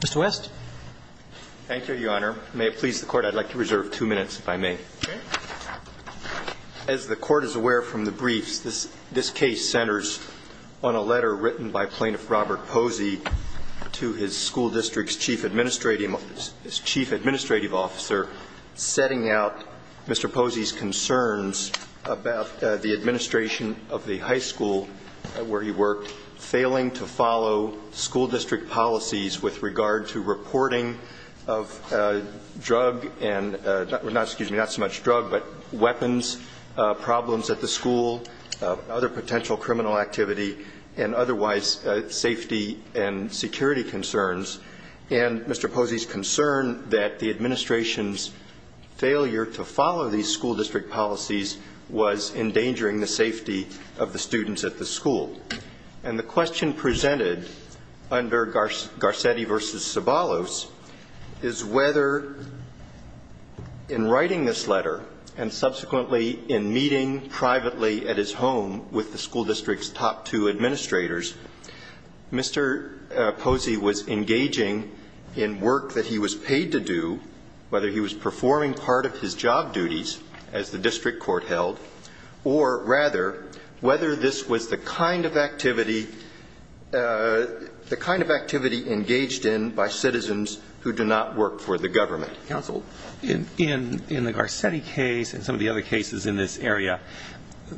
Mr. West. Thank you, Your Honor. May it please the Court, I'd like to reserve two minutes, if I may. Okay. As the Court is aware from the briefs, this case centers on a letter written by Plaintiff Robert Posey to his school district's chief administrative officer, setting out Mr. Posey's concerns about the administration of the high school where he worked, failing to follow school district policies with regard to reporting of drug and not so much drug but weapons problems at the school, other potential criminal activity, and otherwise safety and security concerns. And Mr. Posey's concern that the administration's failure to follow these school district policies was endangering the safety of the students at the school. And the question presented under Garcetti v. Ceballos is whether in writing this letter and subsequently in meeting privately at his home with the school district's top two administrators, Mr. Posey was engaging in work that he was paid to do, whether he was performing part of his job duties, as the district court held, or rather whether this was the kind of activity engaged in by citizens who do not work for the government. Counsel. In the Garcetti case and some of the other cases in this area,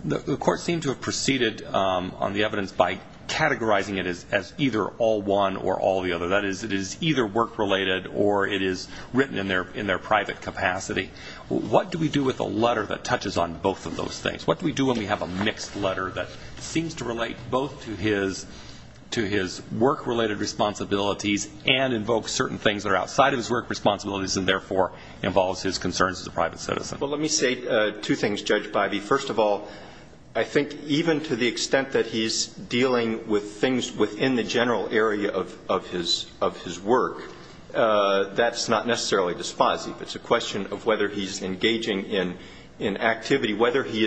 the Court seemed to have proceeded on the evidence by categorizing it as either all one or all the other. That is, it is either work-related or it is written in their private capacity. What do we do with a letter that touches on both of those things? What do we do when we have a mixed letter that seems to relate both to his work-related responsibilities and invokes certain things that are outside of his work responsibilities and, therefore, involves his concerns as a private citizen? Well, let me say two things, Judge Bivey. First of all, I think even to the extent that he's dealing with things within the general area of his work, that's not necessarily to Posey. It's a question of whether he's engaging in activity, whether he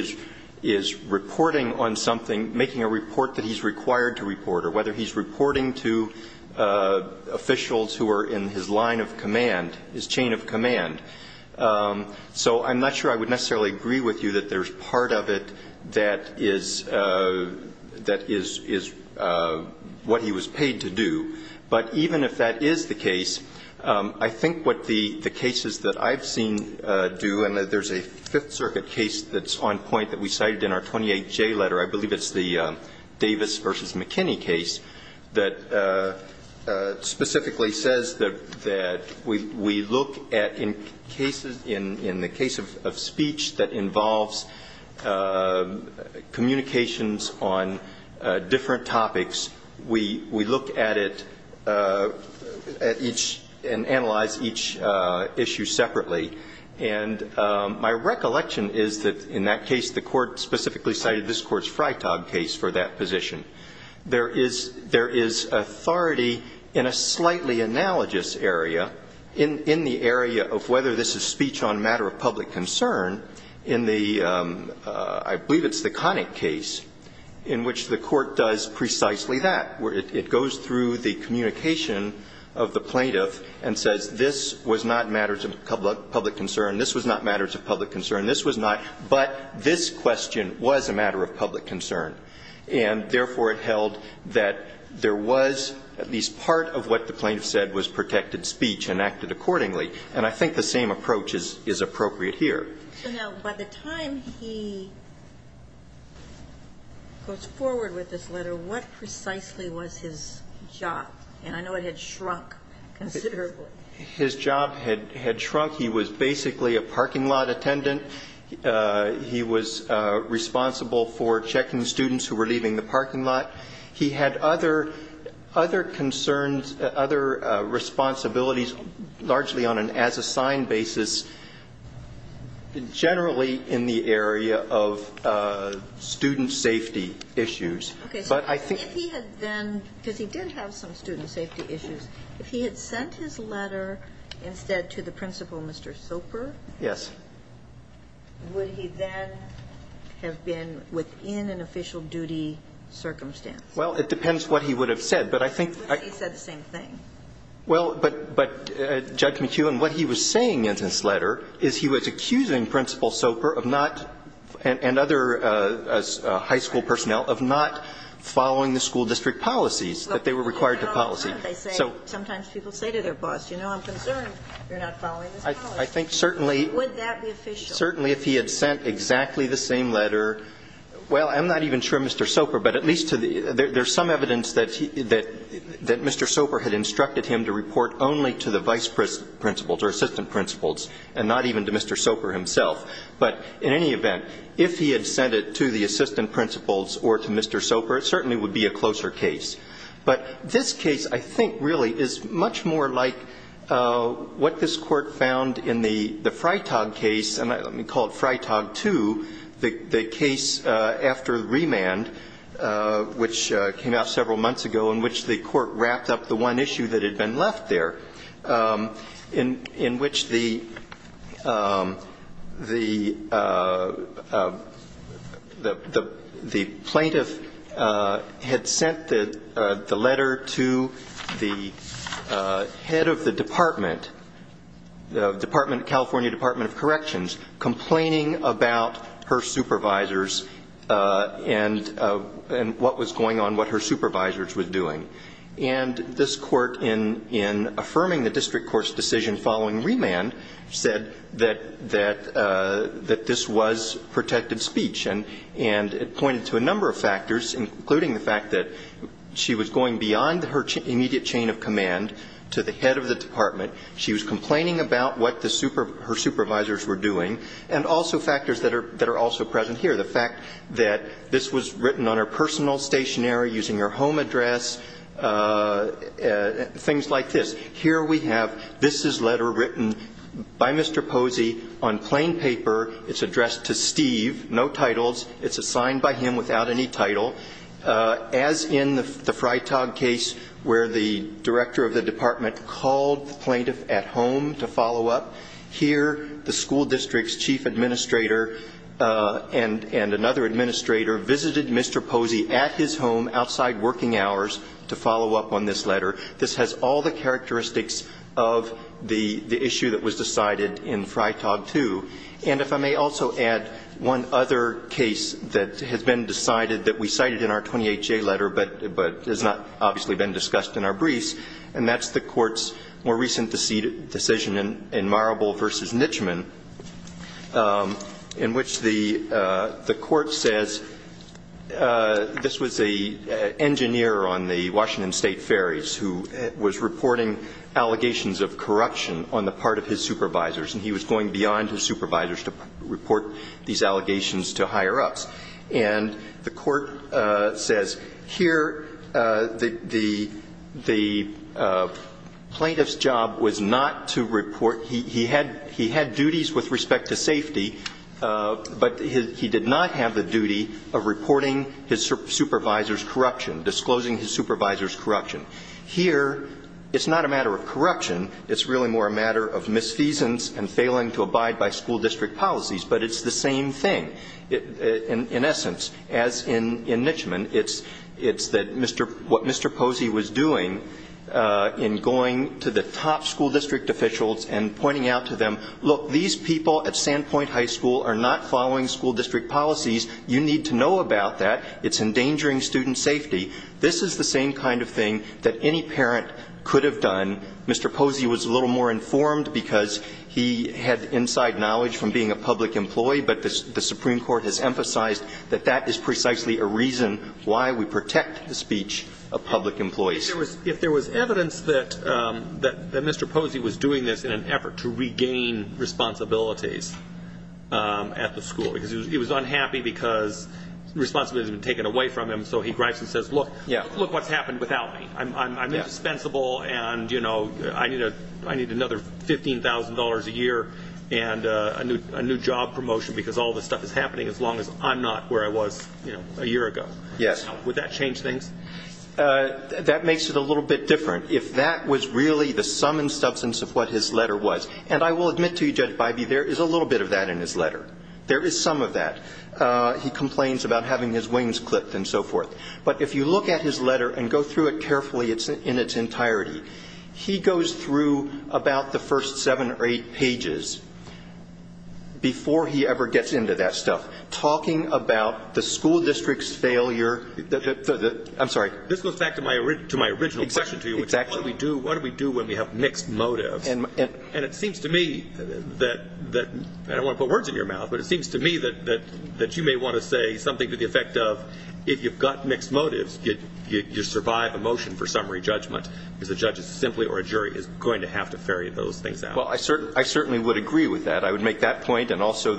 is reporting on something, making a report that he's required to report, or whether he's reporting to officials who are in his line of command, his chain of command. So I'm not sure I would necessarily agree with you that there's part of it that is what he was paid to do. But even if that is the case, I think what the cases that I've seen do, and there's a Fifth Circuit case that's on point that we cited in our 28J letter. I believe it's the Davis v. McKinney case that specifically says that we look at in cases in the case of speech that involves communications on different topics, we look at it at each and analyze each issue separately. And my recollection is that in that case, the Court specifically cited this Court's Freitag case for that position. There is authority in a slightly analogous area, in the area of whether this is speech on a matter of public concern, in the, I believe it's the Connick case, in which the Court does precisely that. It goes through the communication of the plaintiff and says this was not a matter of public concern, this was not a matter of public concern, this was not, but this question was a matter of public concern. And therefore, it held that there was at least part of what the plaintiff said was protected speech and acted accordingly. And I think the same approach is appropriate here. So now, by the time he goes forward with this letter, what precisely was his job? And I know it had shrunk considerably. His job had shrunk. He was basically a parking lot attendant. He was responsible for checking students who were leaving the parking lot. He had other concerns, other responsibilities, largely on an as-assigned basis, generally in the area of student safety issues. But I think he had then, because he did have some student safety issues, if he had sent his letter instead to the principal, Mr. Soper. Yes. Would he then have been within an official duty circumstance? Well, it depends what he would have said. But I think he said the same thing. Well, but, Judge McKeown, what he was saying in this letter is he was accusing Principal Soper of not, and other high school personnel, of not following the school district policies, that they were required to policy. Sometimes people say to their boss, you know, I'm concerned you're not following this policy. I think certainly. Would that be official? Certainly, if he had sent exactly the same letter. Well, I'm not even sure Mr. Soper, but at least there's some evidence that Mr. Soper had instructed him to report only to the vice principals or assistant principals and not even to Mr. Soper himself. But in any event, if he had sent it to the assistant principals or to Mr. Soper, it certainly would be a closer case. But this case, I think, really, is much more like what this Court found in the Freitag case, and we call it Freitag 2, the case after remand, which came out several months ago, in which the Court wrapped up the one issue that had been left there, in which the plaintiff had sent the letter to the vice principals, and the plaintiff had sent the letter to the head of the department, the California Department of Corrections, complaining about her supervisors and what was going on, what her supervisors were doing. And this Court, in affirming the district court's decision following remand, said that this was protected speech, and it pointed to a number of factors, including the fact that she was going beyond her immediate chain of command to the head of the department, she was complaining about what her supervisors were doing, and also factors that are also present here. The fact that this was written on her personal stationary using her home address, things like this. Here we have this is letter written by Mr. Posey on plain paper. It's addressed to Steve, no titles. It's assigned by him without any title. As in the Freitag case where the director of the department called the plaintiff at home to follow up, here the school district's chief administrator and another administrator visited Mr. Posey at his home outside working hours to follow up on this letter. This has all the characteristics of the issue that was decided in Freitag 2. And if I may also add one other case that has been decided that we cited in our 28-J letter but has not obviously been discussed in our briefs, and that's the Court's more recent decision in Marable v. Nitchman, in which the Court says this was an engineer on the Washington State ferries who was reporting allegations of corruption on the part of his supervisors, and he was going beyond his supervisors to report these allegations to higher-ups. And the Court says here the plaintiff's job was not to report. He had duties with respect to safety, but he did not have the duty of reporting his supervisor's corruption, disclosing his supervisor's corruption. Here it's not a matter of corruption. It's really more a matter of misfeasance and failing to abide by school district policies, but it's the same thing. In essence, as in Nitchman, it's that what Mr. Posey was doing in going to the top school district officials and pointing out to them, look, these people at Sandpoint High School are not following school district policies. You need to know about that. It's endangering student safety. This is the same kind of thing that any parent could have done. Mr. Posey was a little more informed because he had inside knowledge from being a public employee, but the Supreme Court has emphasized that that is precisely a reason why we protect the speech of public employees. If there was evidence that Mr. Posey was doing this in an effort to regain responsibilities at the school, because he was unhappy because responsibility had been taken away from him, so he grabs and says, look, look what's happened without me. I'm indispensable and I need another $15,000 a year and a new job promotion because all this stuff is happening as long as I'm not where I was a year ago. Would that change things? That makes it a little bit different. If that was really the sum and substance of what his letter was, and I will admit to you, Judge Bybee, there is a little bit of that in his letter. There is some of that. He complains about having his wings clipped and so forth. But if you look at his letter and go through it carefully in its entirety, he goes through about the first seven or eight pages before he ever gets into that stuff, talking about the school district's failure. I'm sorry. This goes back to my original question to you, which is what do we do when we have mixed motives? And it seems to me that you may want to say something to the effect of if you've got mixed motives, you survive a motion for summary judgment because the judge is simply or a jury is going to have to ferry those things out. Well, I certainly would agree with that. I would make that point and also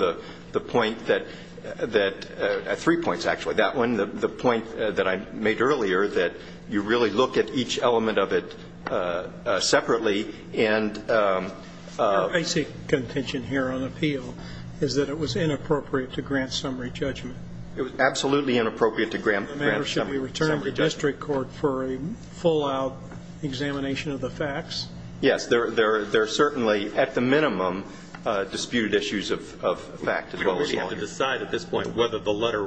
the point that – three points, actually. That one, the point that I made earlier that you really look at each element of it separately and – Your basic contention here on appeal is that it was inappropriate to grant summary judgment. It was absolutely inappropriate to grant summary judgment. Should we return to the district court for a full-out examination of the facts? Yes. There are certainly, at the minimum, disputed issues of fact as well as law. We have to decide at this point whether the letter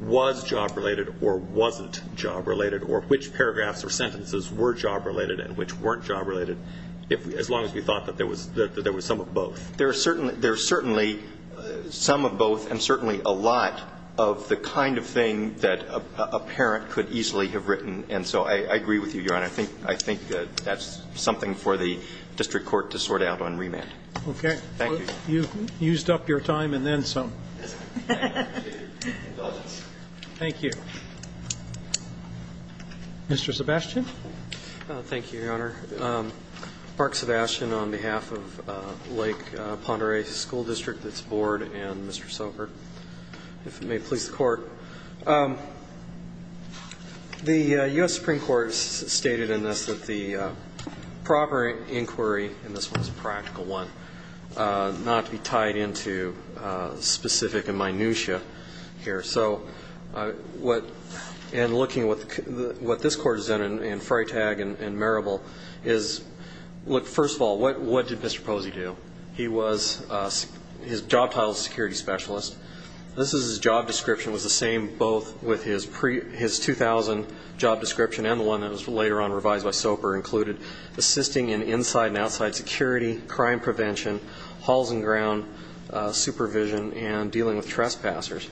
was job-related or wasn't job-related or which paragraphs or sentences were job-related and which weren't job-related as long as we thought that there was some of both. There are certainly some of both and certainly a lot of the kind of thing that a parent could easily have written. And so I agree with you, Your Honor. I think that's something for the district court to sort out on remand. Okay. Thank you. You've used up your time and then some. Thank you. Mr. Sebastian. Thank you, Your Honor. Mark Sebastian on behalf of Lake Ponderay School District, its board, and Mr. Sobert, if it may please the Court. The U.S. Supreme Court has stated in this that the proper inquiry, and this one is a practical one, not to be tied into specific and minutiae here. And looking at what this Court has done in Freytag and Marable is, look, first of all, what did Mr. Posey do? He was his job title is security specialist. This is his job description. It was the same both with his 2000 job description and the one that was later on revised by Sobert included assisting in inside and outside security, crime prevention, halls and ground supervision, and dealing with trespassers.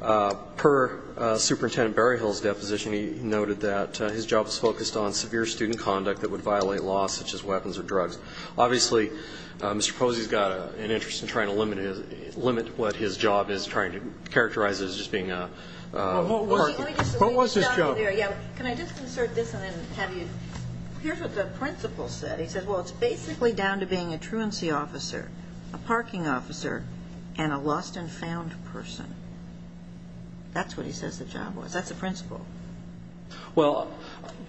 Per Superintendent Berryhill's deposition, he noted that his job was focused on severe student conduct that would violate laws such as weapons or drugs. Obviously, Mr. Posey's got an interest in trying to limit what his job is, trying to characterize it as just being a work. What was his job? Can I just insert this and then have you? Here's what the principal said. He said, well, it's basically down to being a truancy officer, a parking officer, and a lost and found person. That's what he says the job was. That's the principal. Well,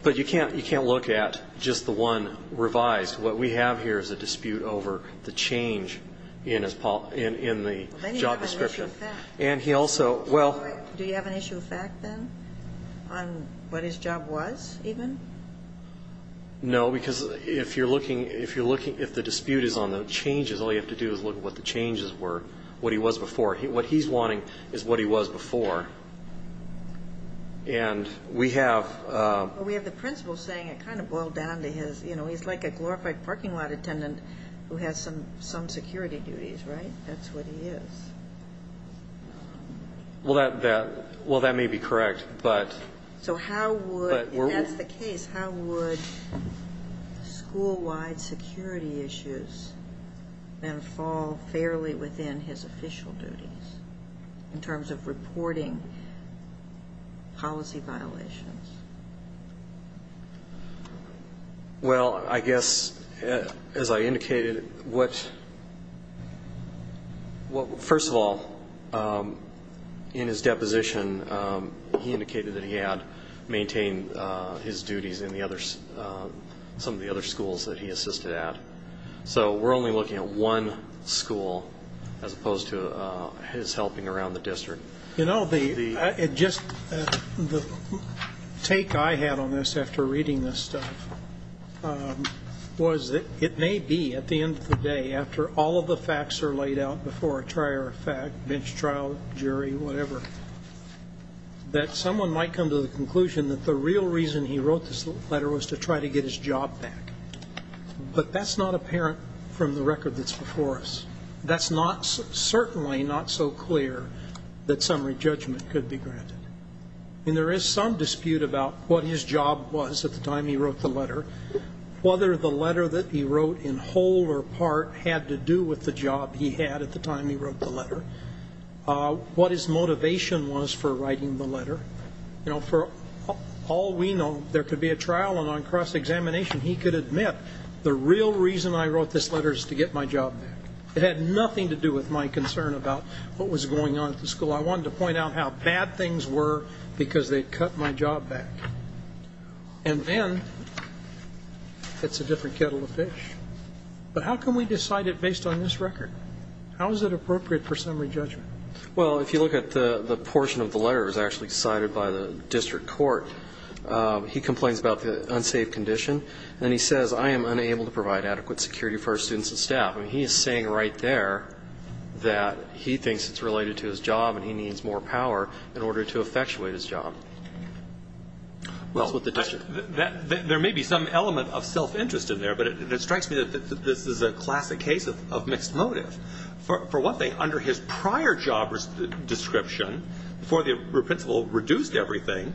but you can't look at just the one revised. What we have here is a dispute over the change in the job description. Do you have an issue of fact then on what his job was even? No, because if you're looking, if the dispute is on the changes, all you have to do is look at what the changes were, what he was before. What he's wanting is what he was before. And we have the principal saying it kind of boiled down to his, you know, he's like a glorified parking lot attendant who has some security duties, right? That's what he is. Well, that may be correct. So how would, if that's the case, how would school-wide security issues then fall fairly within his official duties in terms of reporting policy violations? Well, I guess, as I indicated, what first of all, in his deposition, he indicated that he had maintained his duties in some of the other schools that he assisted at. So we're only looking at one school as opposed to his helping around the district. You know, the take I had on this after reading this stuff was it may be at the end of the day, after all of the facts are laid out before a trier of fact, bench trial, jury, whatever, that someone might come to the conclusion that the real reason he wrote this letter was to try to get his job back. But that's not apparent from the record that's before us. That's certainly not so clear that summary judgment could be granted. And there is some dispute about what his job was at the time he wrote the letter, whether the letter that he wrote in whole or part had to do with the job he had at the time he wrote the letter, what his motivation was for writing the letter. You know, for all we know, there could be a trial, and on cross-examination, he could admit the real reason I wrote this letter is to get my job back. It had nothing to do with my concern about what was going on at the school. I wanted to point out how bad things were because they'd cut my job back. And then it's a different kettle of fish. But how can we decide it based on this record? How is it appropriate for summary judgment? Well, if you look at the portion of the letter that was actually decided by the district court, he complains about the unsafe condition, and he says, I am unable to provide adequate security for our students and staff. I mean, he is saying right there that he thinks it's related to his job and he needs more power in order to effectuate his job. Well, there may be some element of self-interest in there, but it strikes me that this is a classic case of mixed motive. For one thing, under his prior job description, before the principal reduced everything,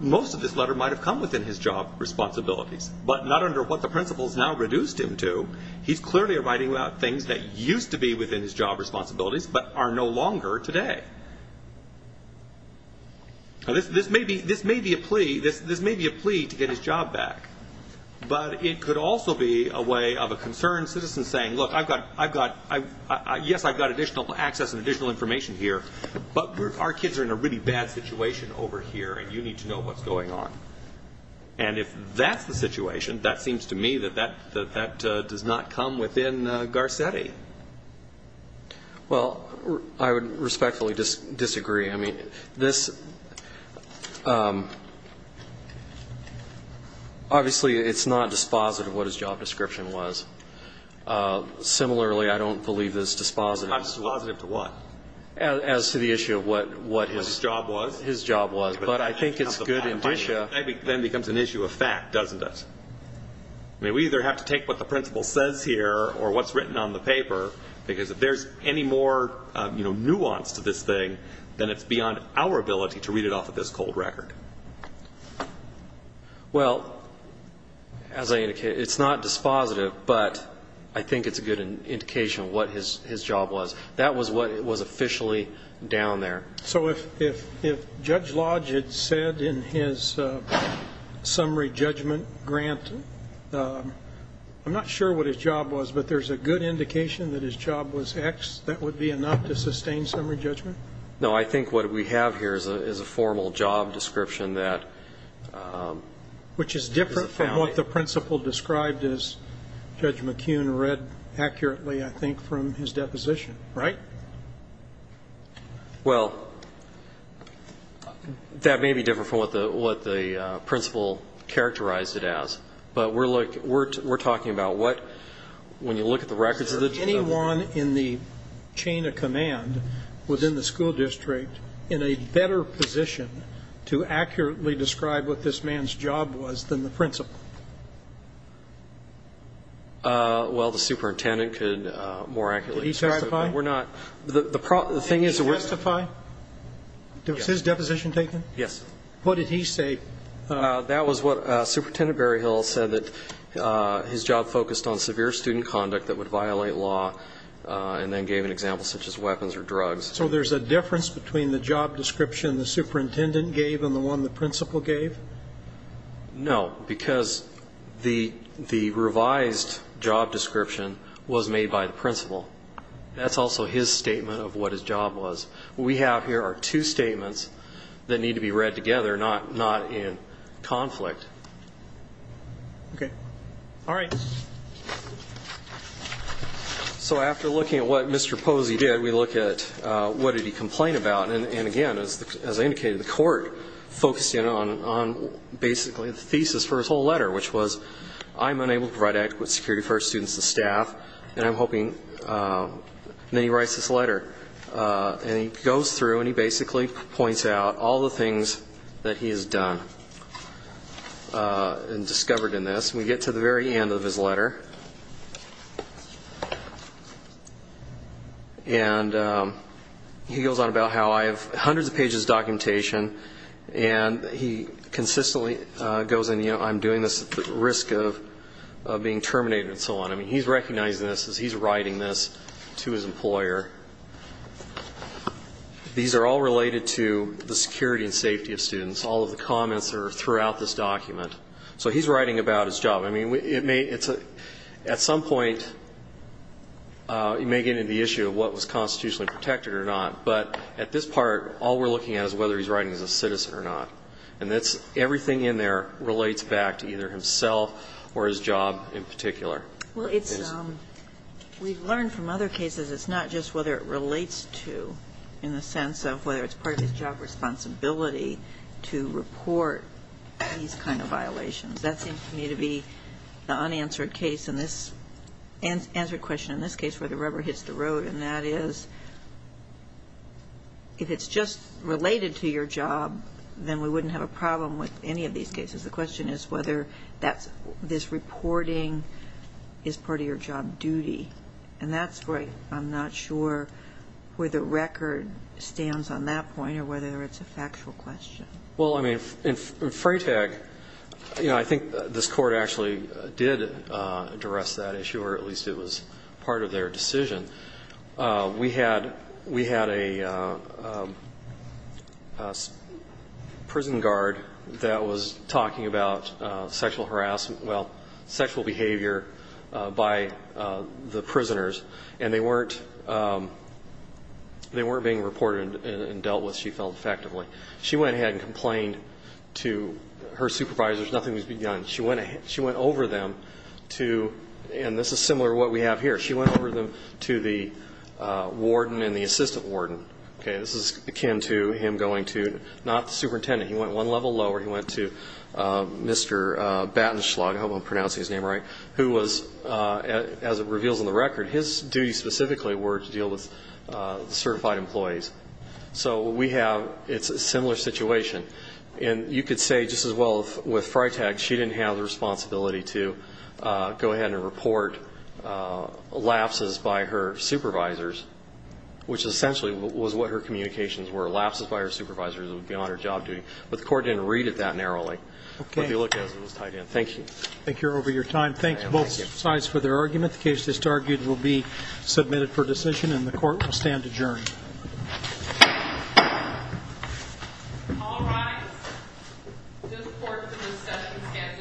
most of this letter might have come within his job responsibilities, but not under what the principal has now reduced him to. He's clearly writing about things that used to be within his job responsibilities but are no longer today. Now, this may be a plea to get his job back, but it could also be a way of a concerned citizen saying, look, yes, I've got additional access and additional information here, but our kids are in a really bad situation over here and you need to know what's going on. And if that's the situation, that seems to me that that does not come within Garcetti. Well, I would respectfully disagree. I mean, this obviously it's not dispositive what his job description was. Similarly, I don't believe it's dispositive. It's not dispositive to what? As to the issue of what his job was. But I think it's good indicia. Then it becomes an issue of fact, doesn't it? I mean, we either have to take what the principal says here or what's written on the paper, because if there's any more nuance to this thing, then it's beyond our ability to read it off of this cold record. Well, as I indicated, it's not dispositive, but I think it's a good indication of what his job was. That was what was officially down there. So if Judge Lodge had said in his summary judgment grant, I'm not sure what his job was, but there's a good indication that his job was X, that would be enough to sustain summary judgment? No. I think what we have here is a formal job description that is a family. Which is different from what the principal described as Judge McKeon read accurately, I think, from his deposition. Right? Right. Well, that may be different from what the principal characterized it as, but we're talking about what, when you look at the records. Is there anyone in the chain of command within the school district in a better position to accurately describe what this man's job was than the principal? Well, the superintendent could more accurately describe it. Did he testify? We're not. Did he testify? Yes. Was his deposition taken? Yes. What did he say? That was what Superintendent Berryhill said, that his job focused on severe student conduct that would violate law, and then gave an example such as weapons or drugs. So there's a difference between the job description the superintendent gave and the one the principal gave? No, because the revised job description was made by the principal. That's also his statement of what his job was. What we have here are two statements that need to be read together, not in conflict. Okay. All right. So after looking at what Mr. Posey did, we look at what did he complain about. And, again, as I indicated, the court focused in on basically the thesis for his whole letter, which was I'm unable to provide adequate security for our students and staff, and I'm hoping that he writes this letter. And he goes through and he basically points out all the things that he has done and discovered in this. And we get to the very end of his letter. And he goes on about how I have hundreds of pages of documentation, and he consistently goes in, you know, I'm doing this at the risk of being terminated and so on. I mean, he's recognizing this as he's writing this to his employer. These are all related to the security and safety of students. All of the comments are throughout this document. So he's writing about his job. I mean, it may at some point, you may get into the issue of what was constitutionally protected or not. But at this part, all we're looking at is whether he's writing as a citizen or not. And that's everything in there relates back to either himself or his job in particular. Well, it's we've learned from other cases it's not just whether it relates to in the sense of whether it's part of his job responsibility to report these kind of violations. That seems to me to be the unanswered question in this case where the rubber hits the road. And that is if it's just related to your job, then we wouldn't have a problem with any of these cases. The question is whether this reporting is part of your job duty. And that's where I'm not sure where the record stands on that point or whether it's a factual question. Well, I mean, in Freytag, you know, I think this Court actually did address that issue, or at least it was part of their decision. We had a prison guard that was talking about sexual harassment, well, sexual behavior by the prisoners, and they weren't being reported and dealt with, she felt, effectively. She went ahead and complained to her supervisors. Nothing was begun. She went over them to, and this is similar to what we have here, she went over them to the warden and the assistant warden. This is akin to him going to not the superintendent. He went one level lower. He went to Mr. Batenschlag, I hope I'm pronouncing his name right, who was, as it reveals in the record, his duties specifically were to deal with certified employees. So we have, it's a similar situation. And you could say just as well with Freytag, she didn't have the responsibility to go ahead and report lapses by her supervisors, which essentially was what her communications were, lapses by her supervisors would be on her job duty. But the Court didn't read it that narrowly. Okay. But if you look at it, it was tied in. Thank you. Thank you for your time. Thanks both sides for their argument. The case that's argued will be submitted for decision, and the Court will stand adjourned. All rise. This Court's discussion stands adjourned.